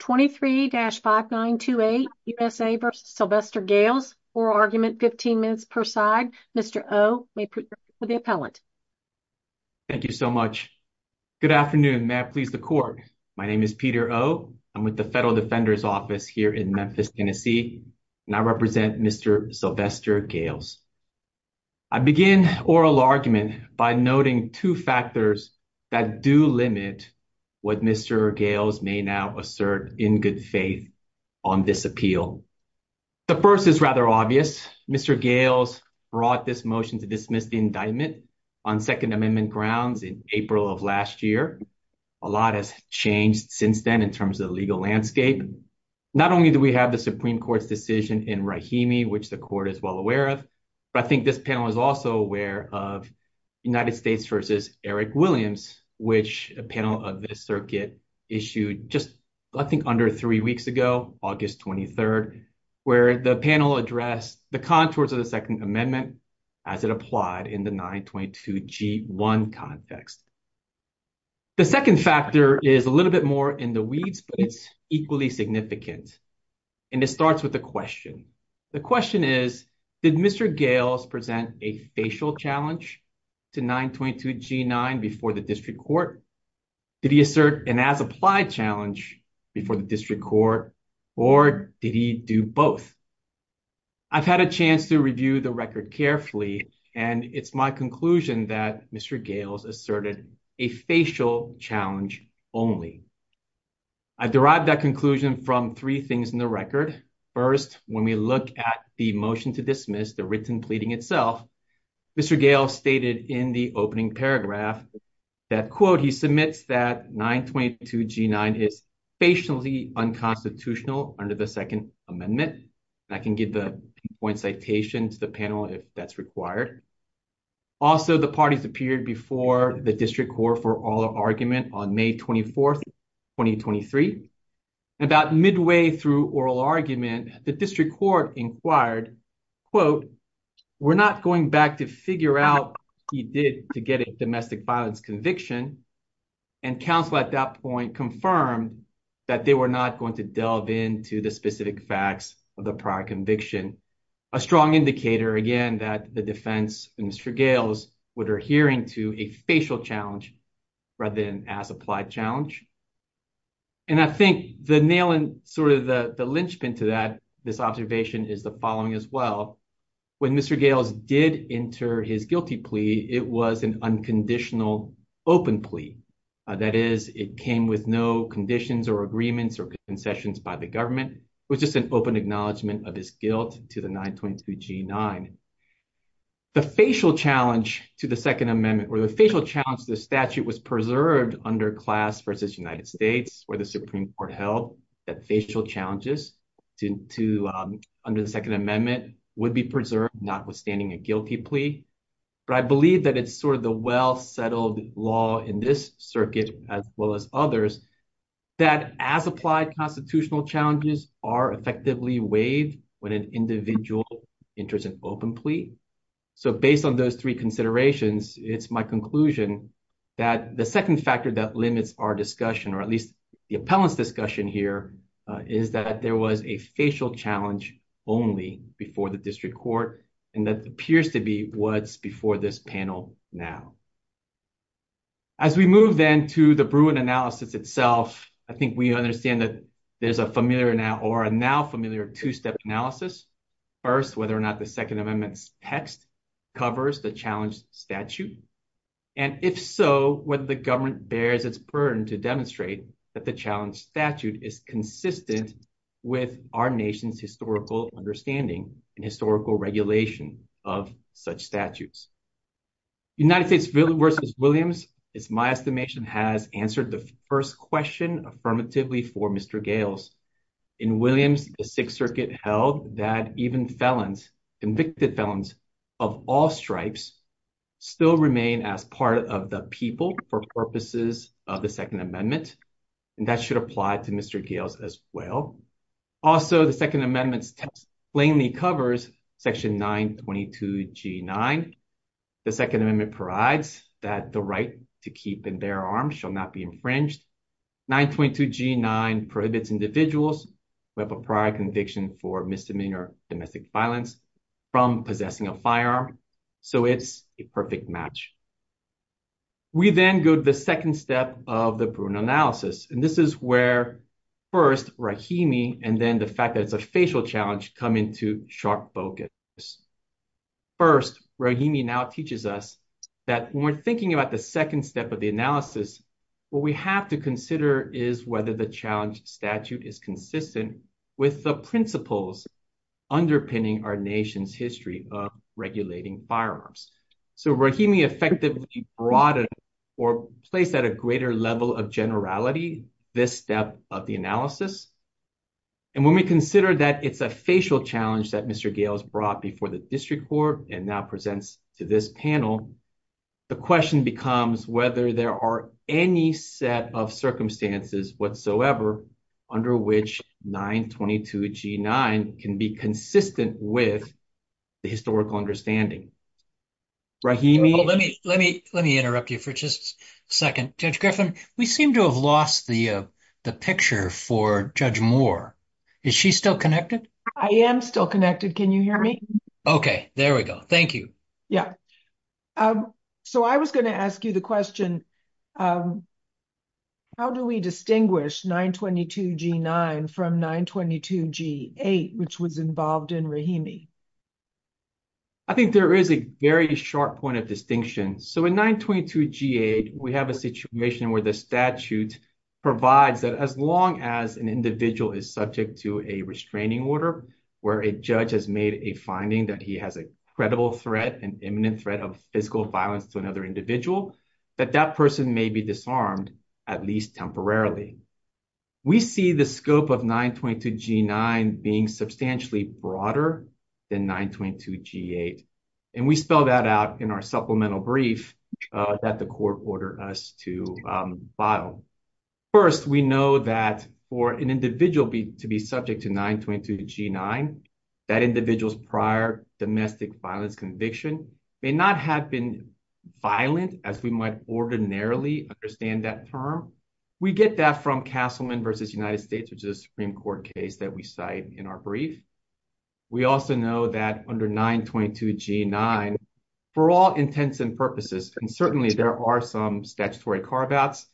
23-5928 U.S.A. v. Sylvester Gailes. Oral argument, 15 minutes per side. Mr. O may present with the appellant. Thank you so much. Good afternoon. May I please the court. My name is Peter O. I'm with the Federal Defender's Office here in Memphis, Tennessee and I represent Mr. Sylvester Gailes. I begin oral argument by noting two factors that do limit what Mr. Gailes may now assert in good faith on this appeal. The first is rather obvious. Mr. Gailes brought this motion to dismiss the indictment on Second Amendment grounds in April of last year. A lot has changed since then in terms of the legal landscape. Not only do we have the Supreme Court's decision in Rahimi, which the court is well aware of, but I was also aware of United States v. Eric Williams, which a panel of the circuit issued just I think under three weeks ago, August 23rd, where the panel addressed the contours of the Second Amendment as it applied in the 922g1 context. The second factor is a little bit more in the weeds, but it's equally significant. And it starts with the question. The question is, did Mr. Gailes present a facial challenge to 922g9 before the district court? Did he assert an as applied challenge before the district court? Or did he do both? I've had a chance to review the record carefully, and it's my conclusion that Mr. Gailes asserted a facial challenge only. I derived that conclusion from three things in the record. First, when we look at the motion to dismiss the written pleading itself, Mr. Gailes stated in the opening paragraph that, quote, he submits that 922g9 is facially unconstitutional under the Second Amendment. I can give the point citation to the panel if that's required. Also, the parties appeared before the district court for oral argument on May 24th, 2023. About midway through oral argument, the district court inquired, quote, we're not going back to figure out what he did to get a domestic violence conviction. And counsel at that point confirmed that they were not going to delve into the specific facts of the prior conviction. A strong indicator, again, that the defense, Mr. Gailes, would adhere to a facial challenge rather than an as applied challenge. And I think the nail in sort of the linchpin to that, this observation is the following as well. When Mr. Gailes did enter his guilty plea, it was an unconditional open plea. That is, it came with no conditions or agreements or concessions by the government. It was just an open acknowledgement of his guilt to the 922g9. The facial challenge to the Second Amendment, or the facial challenge to the statute, was preserved under class versus United States, where the Supreme Court ruled that facial challenges to under the Second Amendment would be preserved, notwithstanding a guilty plea. But I believe that it's sort of the well settled law in this circuit, as well as others, that as applied constitutional challenges are effectively waived when an individual enters an open plea. So based on those three considerations, it's my conclusion that the second factor that limits our discussion, or at least the panel's discussion here, is that there was a facial challenge only before the district court. And that appears to be what's before this panel now. As we move then to the Bruin analysis itself, I think we understand that there's a familiar now or a now familiar two step analysis. First, whether or not the Second Amendment's text covers the challenge statute. And if so, what the government bears its burden to demonstrate that the challenge statute is consistent with our nation's historical understanding and historical regulation of such statutes. United States versus Williams is my estimation has answered the first question affirmatively for Mr. Gales. In Williams, the Sixth Circuit held that even felons, convicted felons of all stripes, still remain as part of the people for purposes of the Second Amendment. And that should apply to Mr. Gales as well. Also, the Second Amendment's text plainly covers section 922 g nine. The Second Amendment provides that the right to keep in their arms shall not be infringed. 922 g nine prohibits individuals who have a prior conviction for misdemeanor domestic violence from possessing a firearm. So it's a perfect match. We then go to the second step of the Bruin analysis. And this is where first Rahimi and then the fact that it's a facial challenge come into sharp focus. First, Rahimi now teaches us that when we're thinking about the second step of the analysis, what we have to consider is whether the challenge statute is consistent with the principles underpinning our nation's history of regulating firearms. So Rahimi effectively broadened or placed at a greater level of generality this step of the analysis. And when we consider that it's a facial challenge that Mr. Gales brought before the district court and now presents to this panel, the question becomes whether there are any set of circumstances whatsoever under which 922 g nine can be consistent with the historical understanding. Rahimi, let me let me let me interrupt you for just a second. Judge Griffin, we seem to have lost the picture for Judge Moore. Is she still connected? I am still connected. Can you hear me? Okay, there we go. Thank you. Yeah. Um, so I was going to ask you the question. Um, how do we distinguish 922 G nine from 922 G eight, which was involved in Rahimi? I think there is a very sharp point of distinction. So in 922 G eight, we have a situation where the statute provides that as long as an individual is subject to a restraining order where a judge has made a finding that he has a credible threat, an imminent threat of physical violence to another individual, that that person may be disarmed, at least temporarily. We see the scope of 922 G nine being substantially broader than 922 G eight, and we spell that out in our supplemental brief that the court ordered us to, um, file. First, we know that for an individual to be subject to 922 G nine, that individual's domestic violence conviction may not have been violent as we might ordinarily understand that term. We get that from Castleman versus United States, which is Supreme Court case that we cite in our brief. We also know that under 922 G nine for all intents and purposes, and certainly there are some statutory carve outs.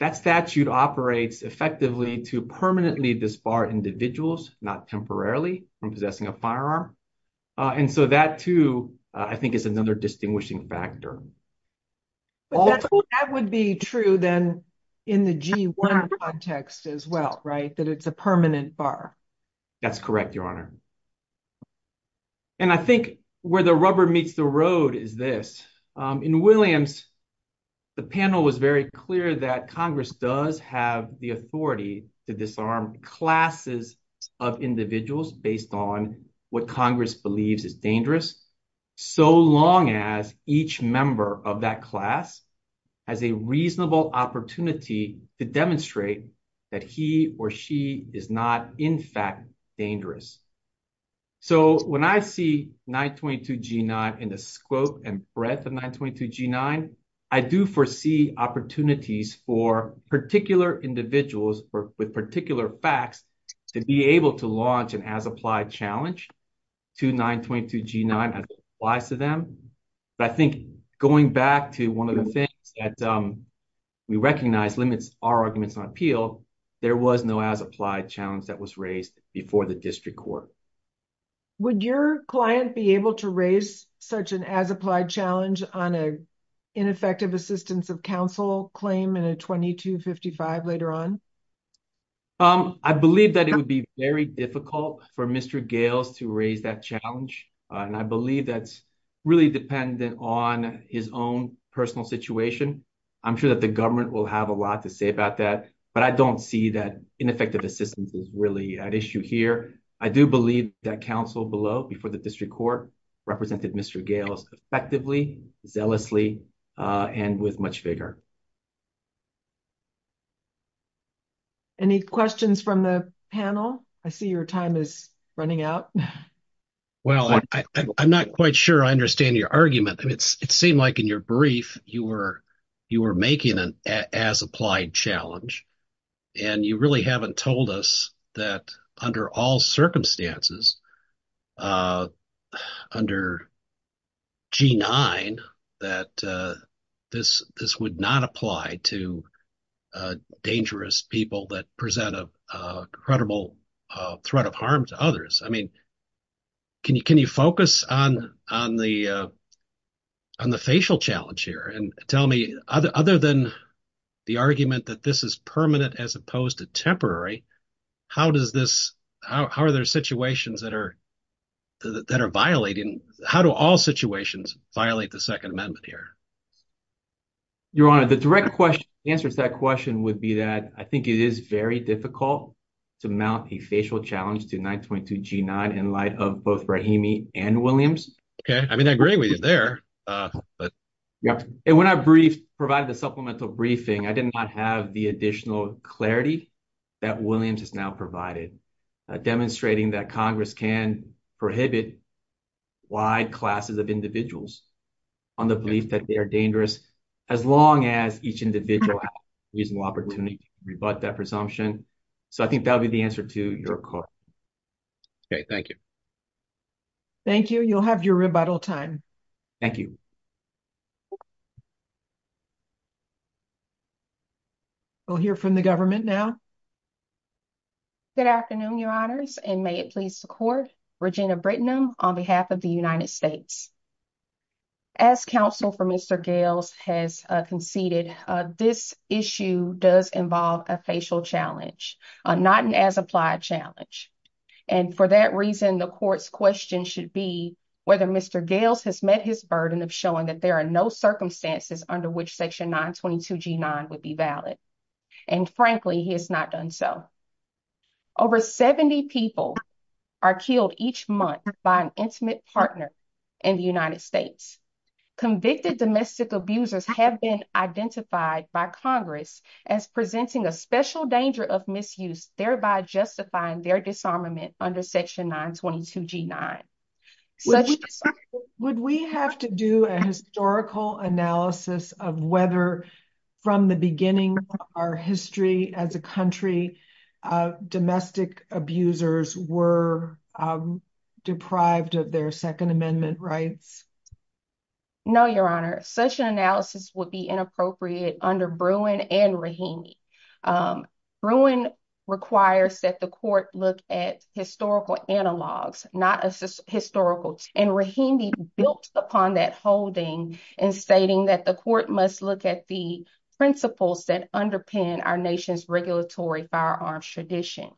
That statute operates effectively to permanently disbar individuals, not temporarily from possessing a firearm. Uh, and so that too, I think, is another distinguishing factor. But that would be true then in the G one context as well, right? That it's a permanent bar. That's correct, Your Honor. And I think where the rubber meets the road is this in Williams. The panel was very clear that Congress does have the authority to disarm classes of individuals based on what Congress believes is dangerous. So long as each member of that class has a reasonable opportunity to demonstrate that he or she is not in fact dangerous. So when I see 922 G nine in the scope and breadth of 922 G nine, I do foresee opportunities for particular individuals with particular facts to be able to launch an as applied challenge to 922 G nine applies to them. But I think going back to one of the things that, um, we recognize limits our arguments on appeal. There was no as applied challenge that was raised before the district court. Would your client be able to raise such an as applied challenge on a ineffective assistance of counsel claim in a 22 55 later on? Um, I believe that it would be very difficult for Mr Gales to raise that challenge on. I believe that's really dependent on his own personal situation. I'm sure that the government will have a lot to say about that, but I don't see that ineffective assistance is really at issue here. I do believe that counsel below before the district court represented Mr Gales effectively, zealously on with much bigger. Any questions from the panel? I see your time is running out. Well, I'm not quite sure I understand your argument. It seemed like in your brief you were you were making an as applied challenge and you really haven't told us that under all circumstances, uh, under G nine that, uh, this, this would not apply to, uh, dangerous people that present a, uh, credible, uh, threat of harm to others. I mean, can you, can you focus on, on the, uh, on the facial challenge here and tell me other other than the argument that this is permanent as opposed to temporary. How does this, how are there situations that are, that are violating? How do all situations violate the second amendment here? Your honor, the direct question answers that question would be that I think it is very difficult to mount a facial challenge to 9 22 G nine in light of both Brahimi and Williams. Okay. I mean, I agree with you there. Uh, yep. And when I brief provided the supplemental briefing, I did not have the additional clarity that Williams has now provided demonstrating that Congress can prohibit wide classes of individuals on the belief that they are dangerous as long as each individual has reasonable opportunity to rebut that presumption. So I think that would be the answer to your court. Okay, thank you. Thank you. You'll have your rebuttal time. Thank you. We'll hear from the government now. Good afternoon, your honors. And may it please the court. Regina Britton on behalf of the United States. As counsel for Mr Gales has conceded this issue does involve a facial challenge, not an as applied challenge. And for that reason, the court's question should be whether Mr Gales has met his burden of showing that there are no circumstances under which section 9 22 G nine would be valid. And frankly, he has not done so. Over 70 people are killed each month by an intimate partner in the United States. Convicted domestic abusers have been identified by Congress as presenting a special danger of misuse, thereby justifying their disarmament under section 9 22 G nine. Such would we have to do a historical analysis of whether from the beginning of our history as a country, uh, domestic abusers were, um, deprived of their second amendment rights. No, your honor. Such an analysis would be inappropriate under brewing and Rahimi. Um, ruin requires that the court look at historical analogs, not a historical and Rahimi built upon that holding and stating that the court must look at the principles that underpin our nation's regulatory firearms tradition.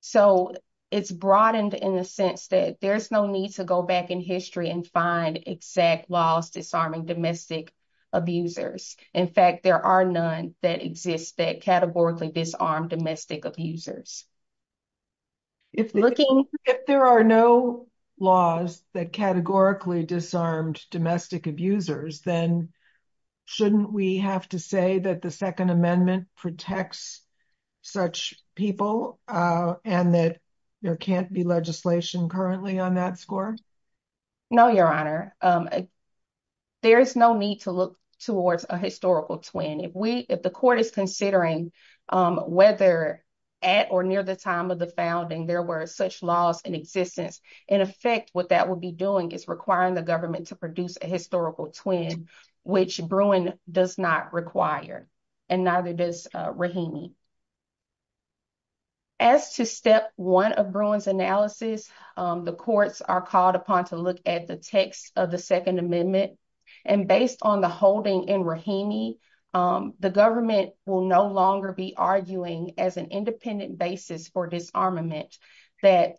So it's broadened in the sense that there's no need to go back in history and find exact laws disarming domestic abusers. In fact, there are none that exist that categorically disarmed domestic abusers. If looking if there are no laws that categorically disarmed domestic abusers, then shouldn't we have to say that the second amendment protects such people? Uh, and that there can't be legislation currently on that score? No, your considering, um, whether at or near the time of the founding, there were such laws in existence. In effect, what that would be doing is requiring the government to produce a historical twin, which brewing does not require and neither does Rahimi. As to step one of Bruins analysis, the courts are called upon to look at the text of the second amendment and based on the holding in Rahimi, um, the government will no longer be arguing as an independent basis for disarmament that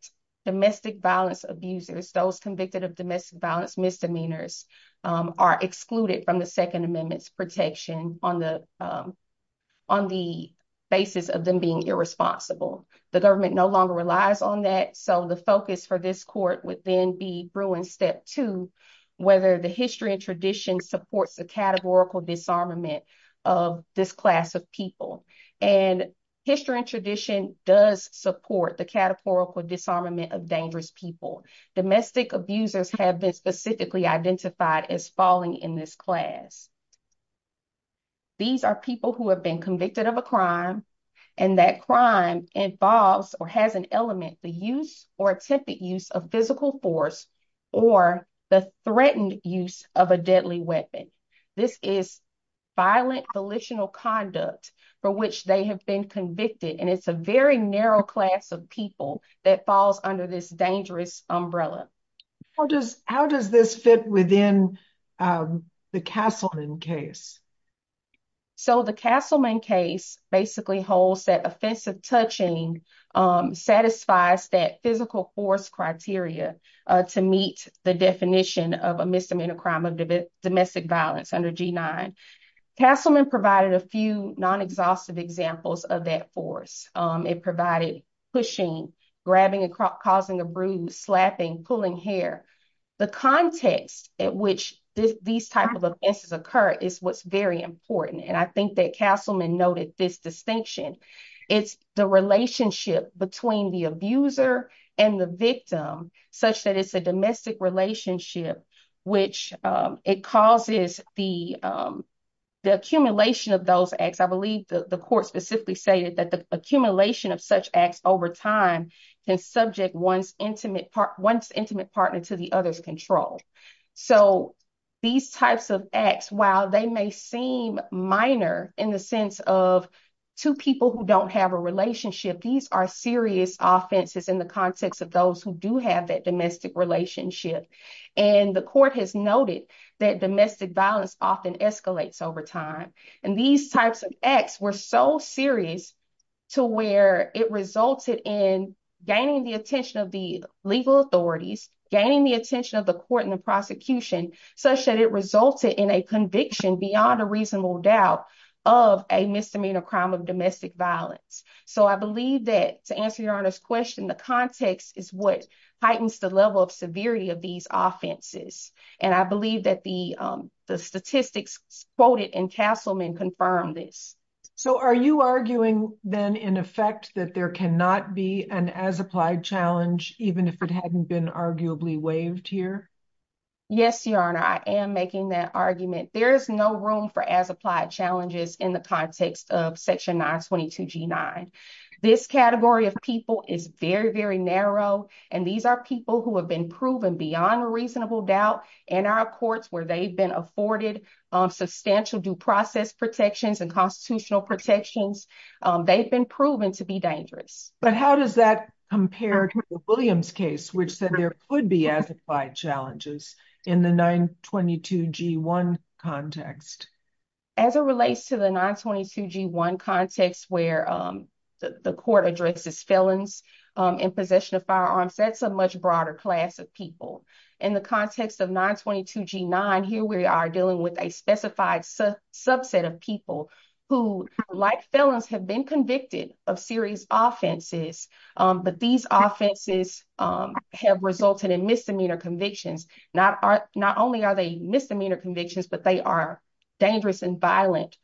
domestic violence abusers, those convicted of domestic violence misdemeanors, um, are excluded from the second amendments protection on the, um, on the basis of them being irresponsible. The government no longer relies on that. So the focus for this court would then be brewing step two, whether the history and tradition supports the categorical disarmament of this class of people and history and tradition does support the categorical disarmament of dangerous people. Domestic abusers have been specifically identified as falling in this class. These are people who have been convicted of a crime and that crime involves or has an element, the use or attempted use of physical force or the threatened use of a deadly weapon. This is violent, volitional conduct for which they have been convicted and it's a very narrow class of people that falls under this dangerous umbrella. How does, how does this fit within, um, the Castleman case? So the Castleman case basically holds that offensive touching, um, satisfies that physical force criteria, uh, to meet the definition of a misdemeanor crime of domestic violence under G nine. Castleman provided a few non exhaustive examples of that force. Um, it provided pushing, grabbing and causing a bruise, slapping, pulling hair, the context at which these types of offenses occur is what's very important. And I think that Castleman noted this distinction. It's the relationship between the abuser and the victim such that it's a domestic relationship, which, um, it causes the, um, the accumulation of those acts. I believe the court specifically stated that the accumulation of such acts over time can subject one's intimate part, one's intimate partner to the other's control. So these types of acts, while they may seem minor in the sense of two people who don't have a relationship, these are serious offenses in the context of those who do have that domestic relationship. And the court has noted that domestic violence often escalates over time. And these types of acts were so serious to where it resulted in gaining the attention of the legal authorities, gaining the court and the prosecution such that it resulted in a conviction beyond a reasonable doubt of a misdemeanor crime of domestic violence. So I believe that to answer your honor's question, the context is what heightens the level of severity of these offenses. And I believe that the, um, the statistics quoted in Castleman confirmed this. So are you arguing then in effect that there cannot be an as applied challenge, even if it hadn't been arguably waived here? Yes, your honor. I am making that argument. There is no room for as applied challenges in the context of section 9 22 G nine. This category of people is very, very narrow. And these are people who have been proven beyond reasonable doubt in our courts where they've been afforded substantial due process protections and constitutional protections. They've been proven to be dangerous. But how does that compare to Williams case, which said there could be as applied challenges in the 9 22 G one context as it relates to the 9 22 G one context where, um, the court addresses felons in possession of firearms. That's a much broader class of people in the context of 9 22 G nine. Here we are dealing with a specified subset of people who, like felons, have been convicted of serious offenses. But these offenses have resulted in misdemeanor convictions. Not not only are they misdemeanor convictions, but they are dangerous and violent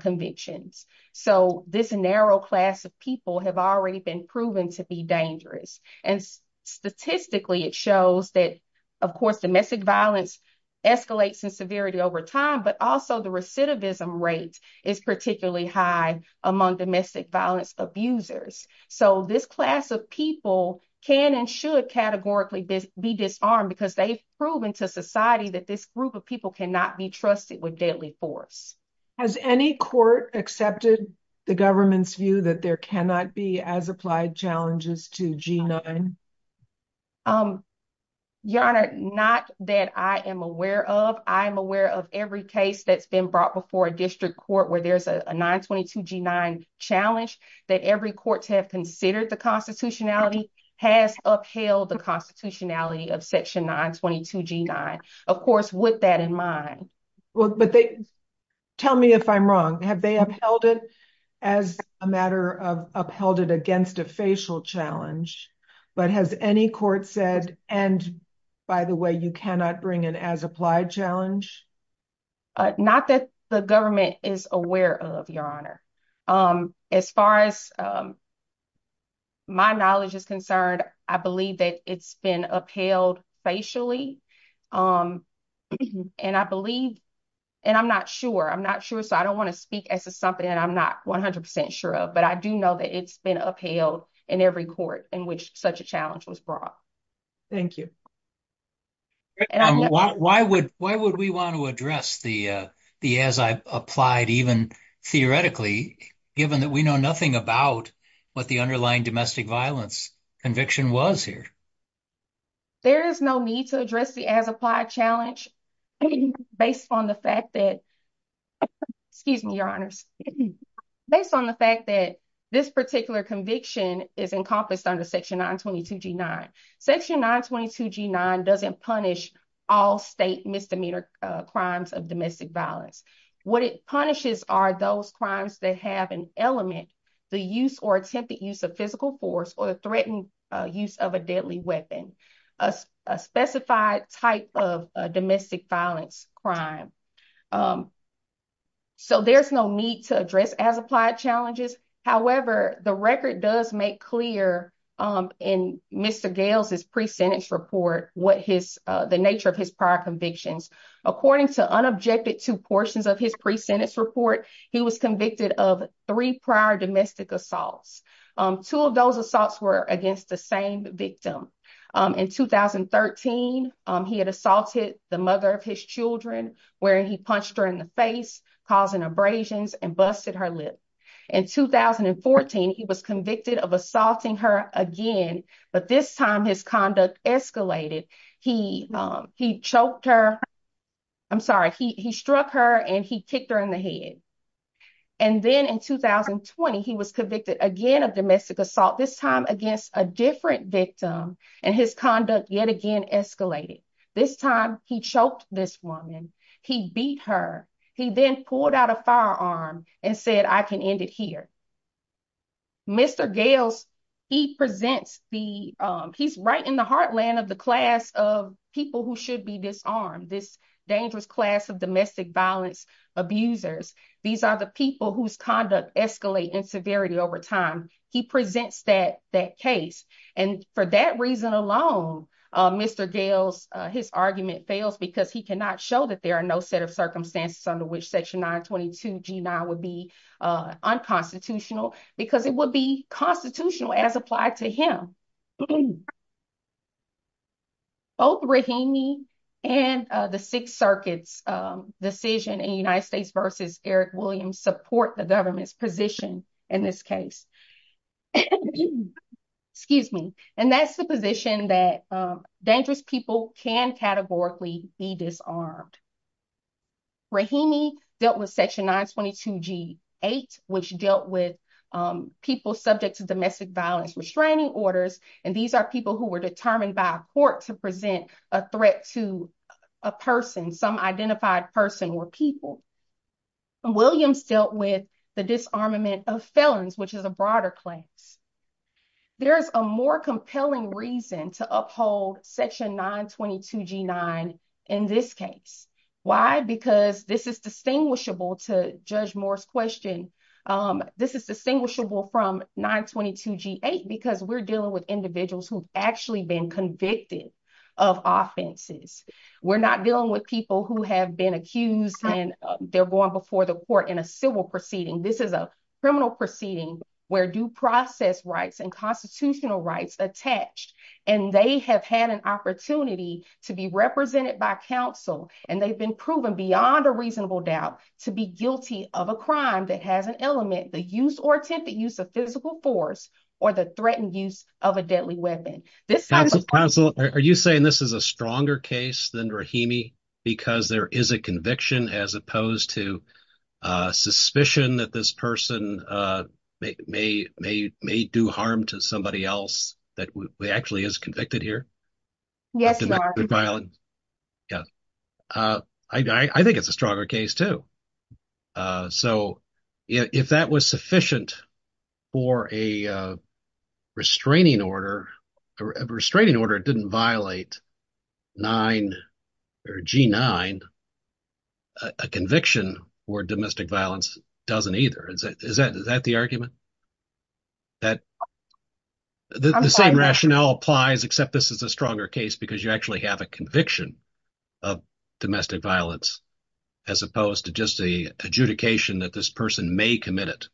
convictions. So this narrow class of people have already been proven to be dangerous. And statistically, it shows that, of course, domestic violence escalates in severity over time, but also the recidivism rate is particularly high among domestic violence abusers. So this class of people can and should categorically be disarmed because they've proven to society that this group of people cannot be trusted with deadly force. Has any court accepted the government's view that there cannot be as applied challenges to G nine? Um, Your Honor, not that I am aware of. I'm aware of every case that's been brought before a district court where there's a 9 22 G nine challenge that every court have considered. The constitutionality has upheld the constitutionality of Section 9 22 G nine, of course, with that in mind. Well, but they tell me if I'm wrong. Have they upheld it as a matter of upheld it against a facial challenge? But has any court said? And by the way, you cannot bring in as applied challenge. Not that the government is aware of your honor. Um, as far as, um, my knowledge is concerned. I believe that it's been upheld facially. Um, and I believe and I'm not sure. I'm not sure. So I don't want to speak as a something that I'm not 100% sure of. But I do know that it's been upheld in every court in which such a challenge was brought. Thank you. And why would why would we want to address the as I applied even theoretically, given that we know nothing about what the underlying domestic violence conviction was here. There is no need to address the as applied challenge based on the fact that, excuse me, your honors, based on the fact that this particular conviction is encompassed under Section 9 22 G nine. Section 9 22 G nine doesn't punish all state misdemeanor crimes of domestic violence. What it punishes are those crimes that have an element, the use or attempted use of physical force or threatened use of a deadly weapon, a specified type of domestic violence crime. Um, so there's no need to address as applied challenges. However, the record does make clear in Mr Gail's his pre sentence report what his the nature of his prior convictions. According to unobjected two portions of his pre sentence report, he was convicted of three prior domestic assaults. Um, two of those assaults were against the same victim. Um, in 2013 he had assaulted the mother of his Children, where he punched her in the face, causing abrasions and busted her lip. In 2014 he was convicted of assaulting her again. But this time his conduct escalated. He, um, he choked her. I'm sorry. He struck her and he kicked her in the head. And then in 2020 he was convicted again of domestic assault, this time against a different victim and his conduct yet again escalated. This time he choked this woman. He beat her. He then pulled out a firearm and said, I can end it here. Mr Gales, he presents the he's right in the heartland of the class of people who should be disarmed. This dangerous class of domestic violence abusers. These are the people whose conduct escalate in severity over time. He presents that that case. And for that reason alone, Mr Gales, his argument fails because he cannot show that there are no set of circumstances under which section 9 22 G nine would be unconstitutional because it would be constitutional as applied to him. Both Rahimi and the Sixth Circuit's decision in the United States versus Eric Williams support the government's position in this case. Excuse me. And that's the position that dangerous people can categorically be disarmed. Rahimi dealt with section 9 22 G eight, which dealt with people subject to domestic violence restraining orders. And these are people who were determined by a court to present a threat to a person, some identified person or people. Williams dealt with the disarmament of felons, which is a broader claims. There is a more compelling reason to uphold section 9 22 G nine in this case. Why? Because this is distinguishable to Judge Morris question. This is distinguishable from 9 22 G eight because we're dealing with individuals who've actually been convicted of offenses. We're not dealing with people who have been accused and they're going before the court in a proceeding. This is a criminal proceeding where due process rights and constitutional rights attached, and they have had an opportunity to be represented by council, and they've been proven beyond a reasonable doubt to be guilty of a crime that has an element, the use or attempted use of physical force or the threatened use of a deadly weapon. This council. Are you saying this is a stronger case than Rahimi? Because there is a conviction as opposed to suspicion that this person, uh, may may may do harm to somebody else that actually is convicted here. Yes, violent. Yeah. Uh, I think it's a stronger case, too. Uh, so if that was sufficient for a restraining order, a restraining order didn't violate nine or G nine, a conviction or domestic violence doesn't either. Is that? Is that the argument that the same rationale applies except this is a stronger case because you actually have a conviction of domestic violence as opposed to just the adjudication that this person may commit it?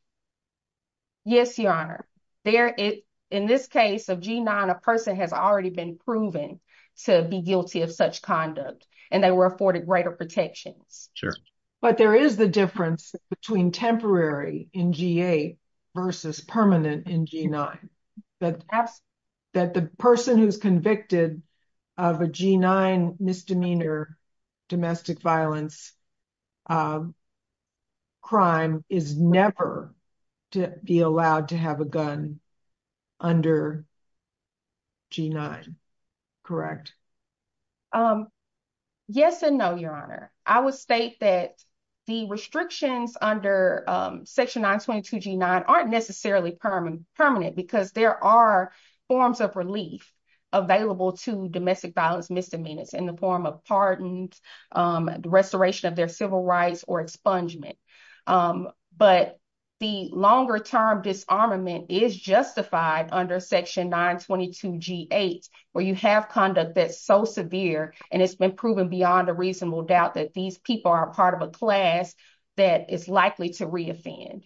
Yes, Your Honor. There is, in this case of G nine, a person has already been proven to be guilty of such conduct, and they were afforded greater protections. But there is the difference between temporary in G eight versus permanent in G nine that that the person who's convicted of a G nine misdemeanor domestic violence, um, crime is never to be allowed to have a gun under G nine. Correct? Um, yes and no, Your Honor. I would state that the restrictions under section 9 22 G nine aren't necessarily permanent, permanent because there are forms of relief available to domestic violence misdemeanors in the form of pardoned, um, restoration of their civil rights or expungement. Um, but the longer term disarmament is justified under section 9 22 G eight where you have conduct that's so severe, and it's been proven beyond a reasonable doubt that these people are part of a class that is likely to reoffend.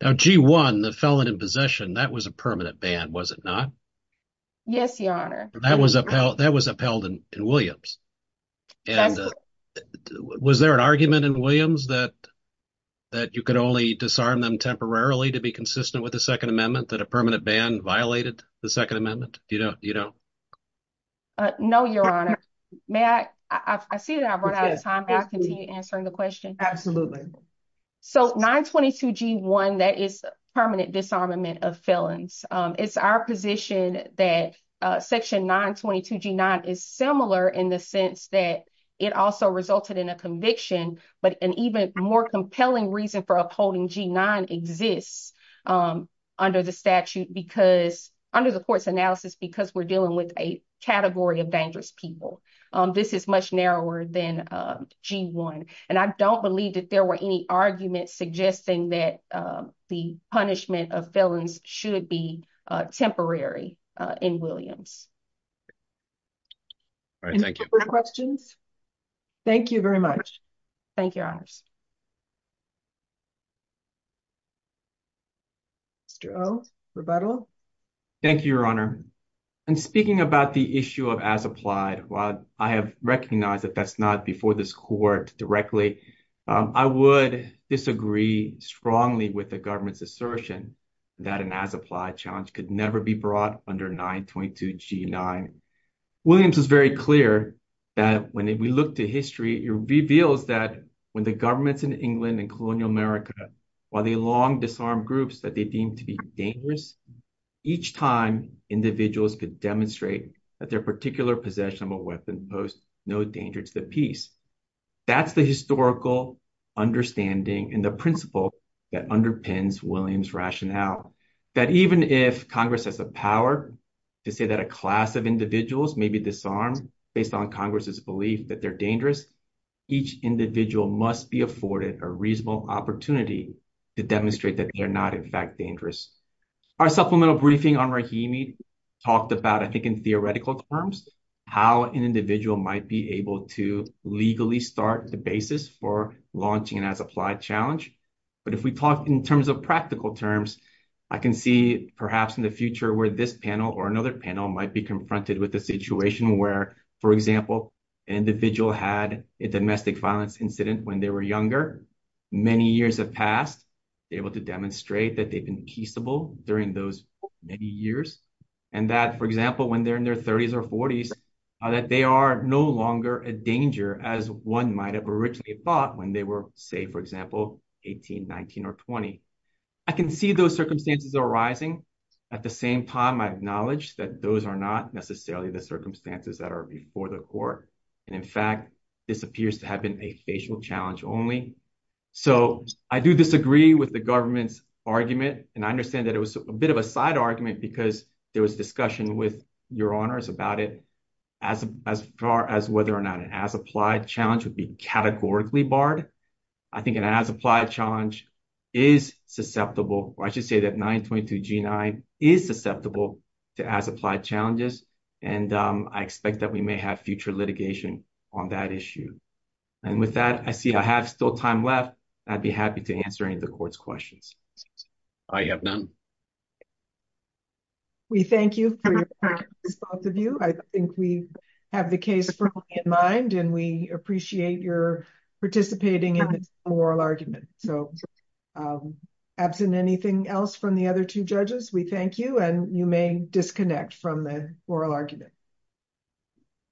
Now, G one, the felon in possession that was a permanent band, was it not? Yes, Your Honor. That was upheld. That was upheld in Williams. And was there an argument in Williams that that you could only disarm them temporarily to be consistent with the Second Amendment that a permanent band violated the Second Amendment? You don't, you know? No, Your Honor. May I? I see that I've run out of time. I continue answering the Absolutely. So 9 22 G one that is permanent disarmament of felons. It's our position that section 9 22 G nine is similar in the sense that it also resulted in a conviction. But an even more compelling reason for upholding G nine exists, um, under the statute because under the court's analysis, because we're dealing with a category of dangerous people. This is much narrower than G one. And I don't believe that there were any argument suggesting that the punishment of felons should be temporary in Williams. All right. Thank you for questions. Thank you very much. Thank you, Honors. Mr O. Rebuttal. Thank you, Your Honor. And speaking about the issue of as I have recognized that that's not before this court directly. I would disagree strongly with the government's assertion that an as applied challenge could never be brought under 9 22 G nine. Williams is very clear that when we look to history reveals that when the government's in England and colonial America, while the long disarmed groups that they deemed to be dangerous each time individuals could demonstrate that their particular possession of a weapon post no danger to the peace. That's the historical understanding in the principle that underpins Williams rationale that even if Congress has the power to say that a class of individuals may be disarmed based on Congress's belief that they're dangerous, each individual must be afforded a reasonable opportunity to demonstrate that they're not in fact dangerous. Our supplemental briefing on Rahimi talked about, I think, in theoretical terms how an individual might be able to legally start the basis for launching and as applied challenge. But if we talk in terms of practical terms, I can see perhaps in the future where this panel or another panel might be confronted with the situation where, for example, individual had a domestic violence incident when they were younger. Many years have passed able to demonstrate that they've been peaceable during those many years. And that, for example, when they're in their 30s or 40s, that they are no longer a danger as one might have originally thought when they were, say, for example, 18, 19 or 20. I can see those circumstances arising. At the same time, I acknowledge that those are not necessarily the circumstances that are before the court. And in fact, this appears to have been a facial challenge only. So I do disagree with the government's argument. And I understand that it was a bit of a side argument because there was discussion with your honors about it as far as whether or not an as applied challenge would be categorically barred. I think an as applied challenge is susceptible. I should say that 922 G9 is susceptible to as applied challenges. And I expect that we may have future litigation on that issue. And with that, I see I have still time left. I'd be happy to answer any of your questions. I have none. We thank you for your response of you. I think we have the case in mind and we appreciate your participating in the oral argument. So absent anything else from the other two judges, we thank you. And you may disconnect from the oral argument.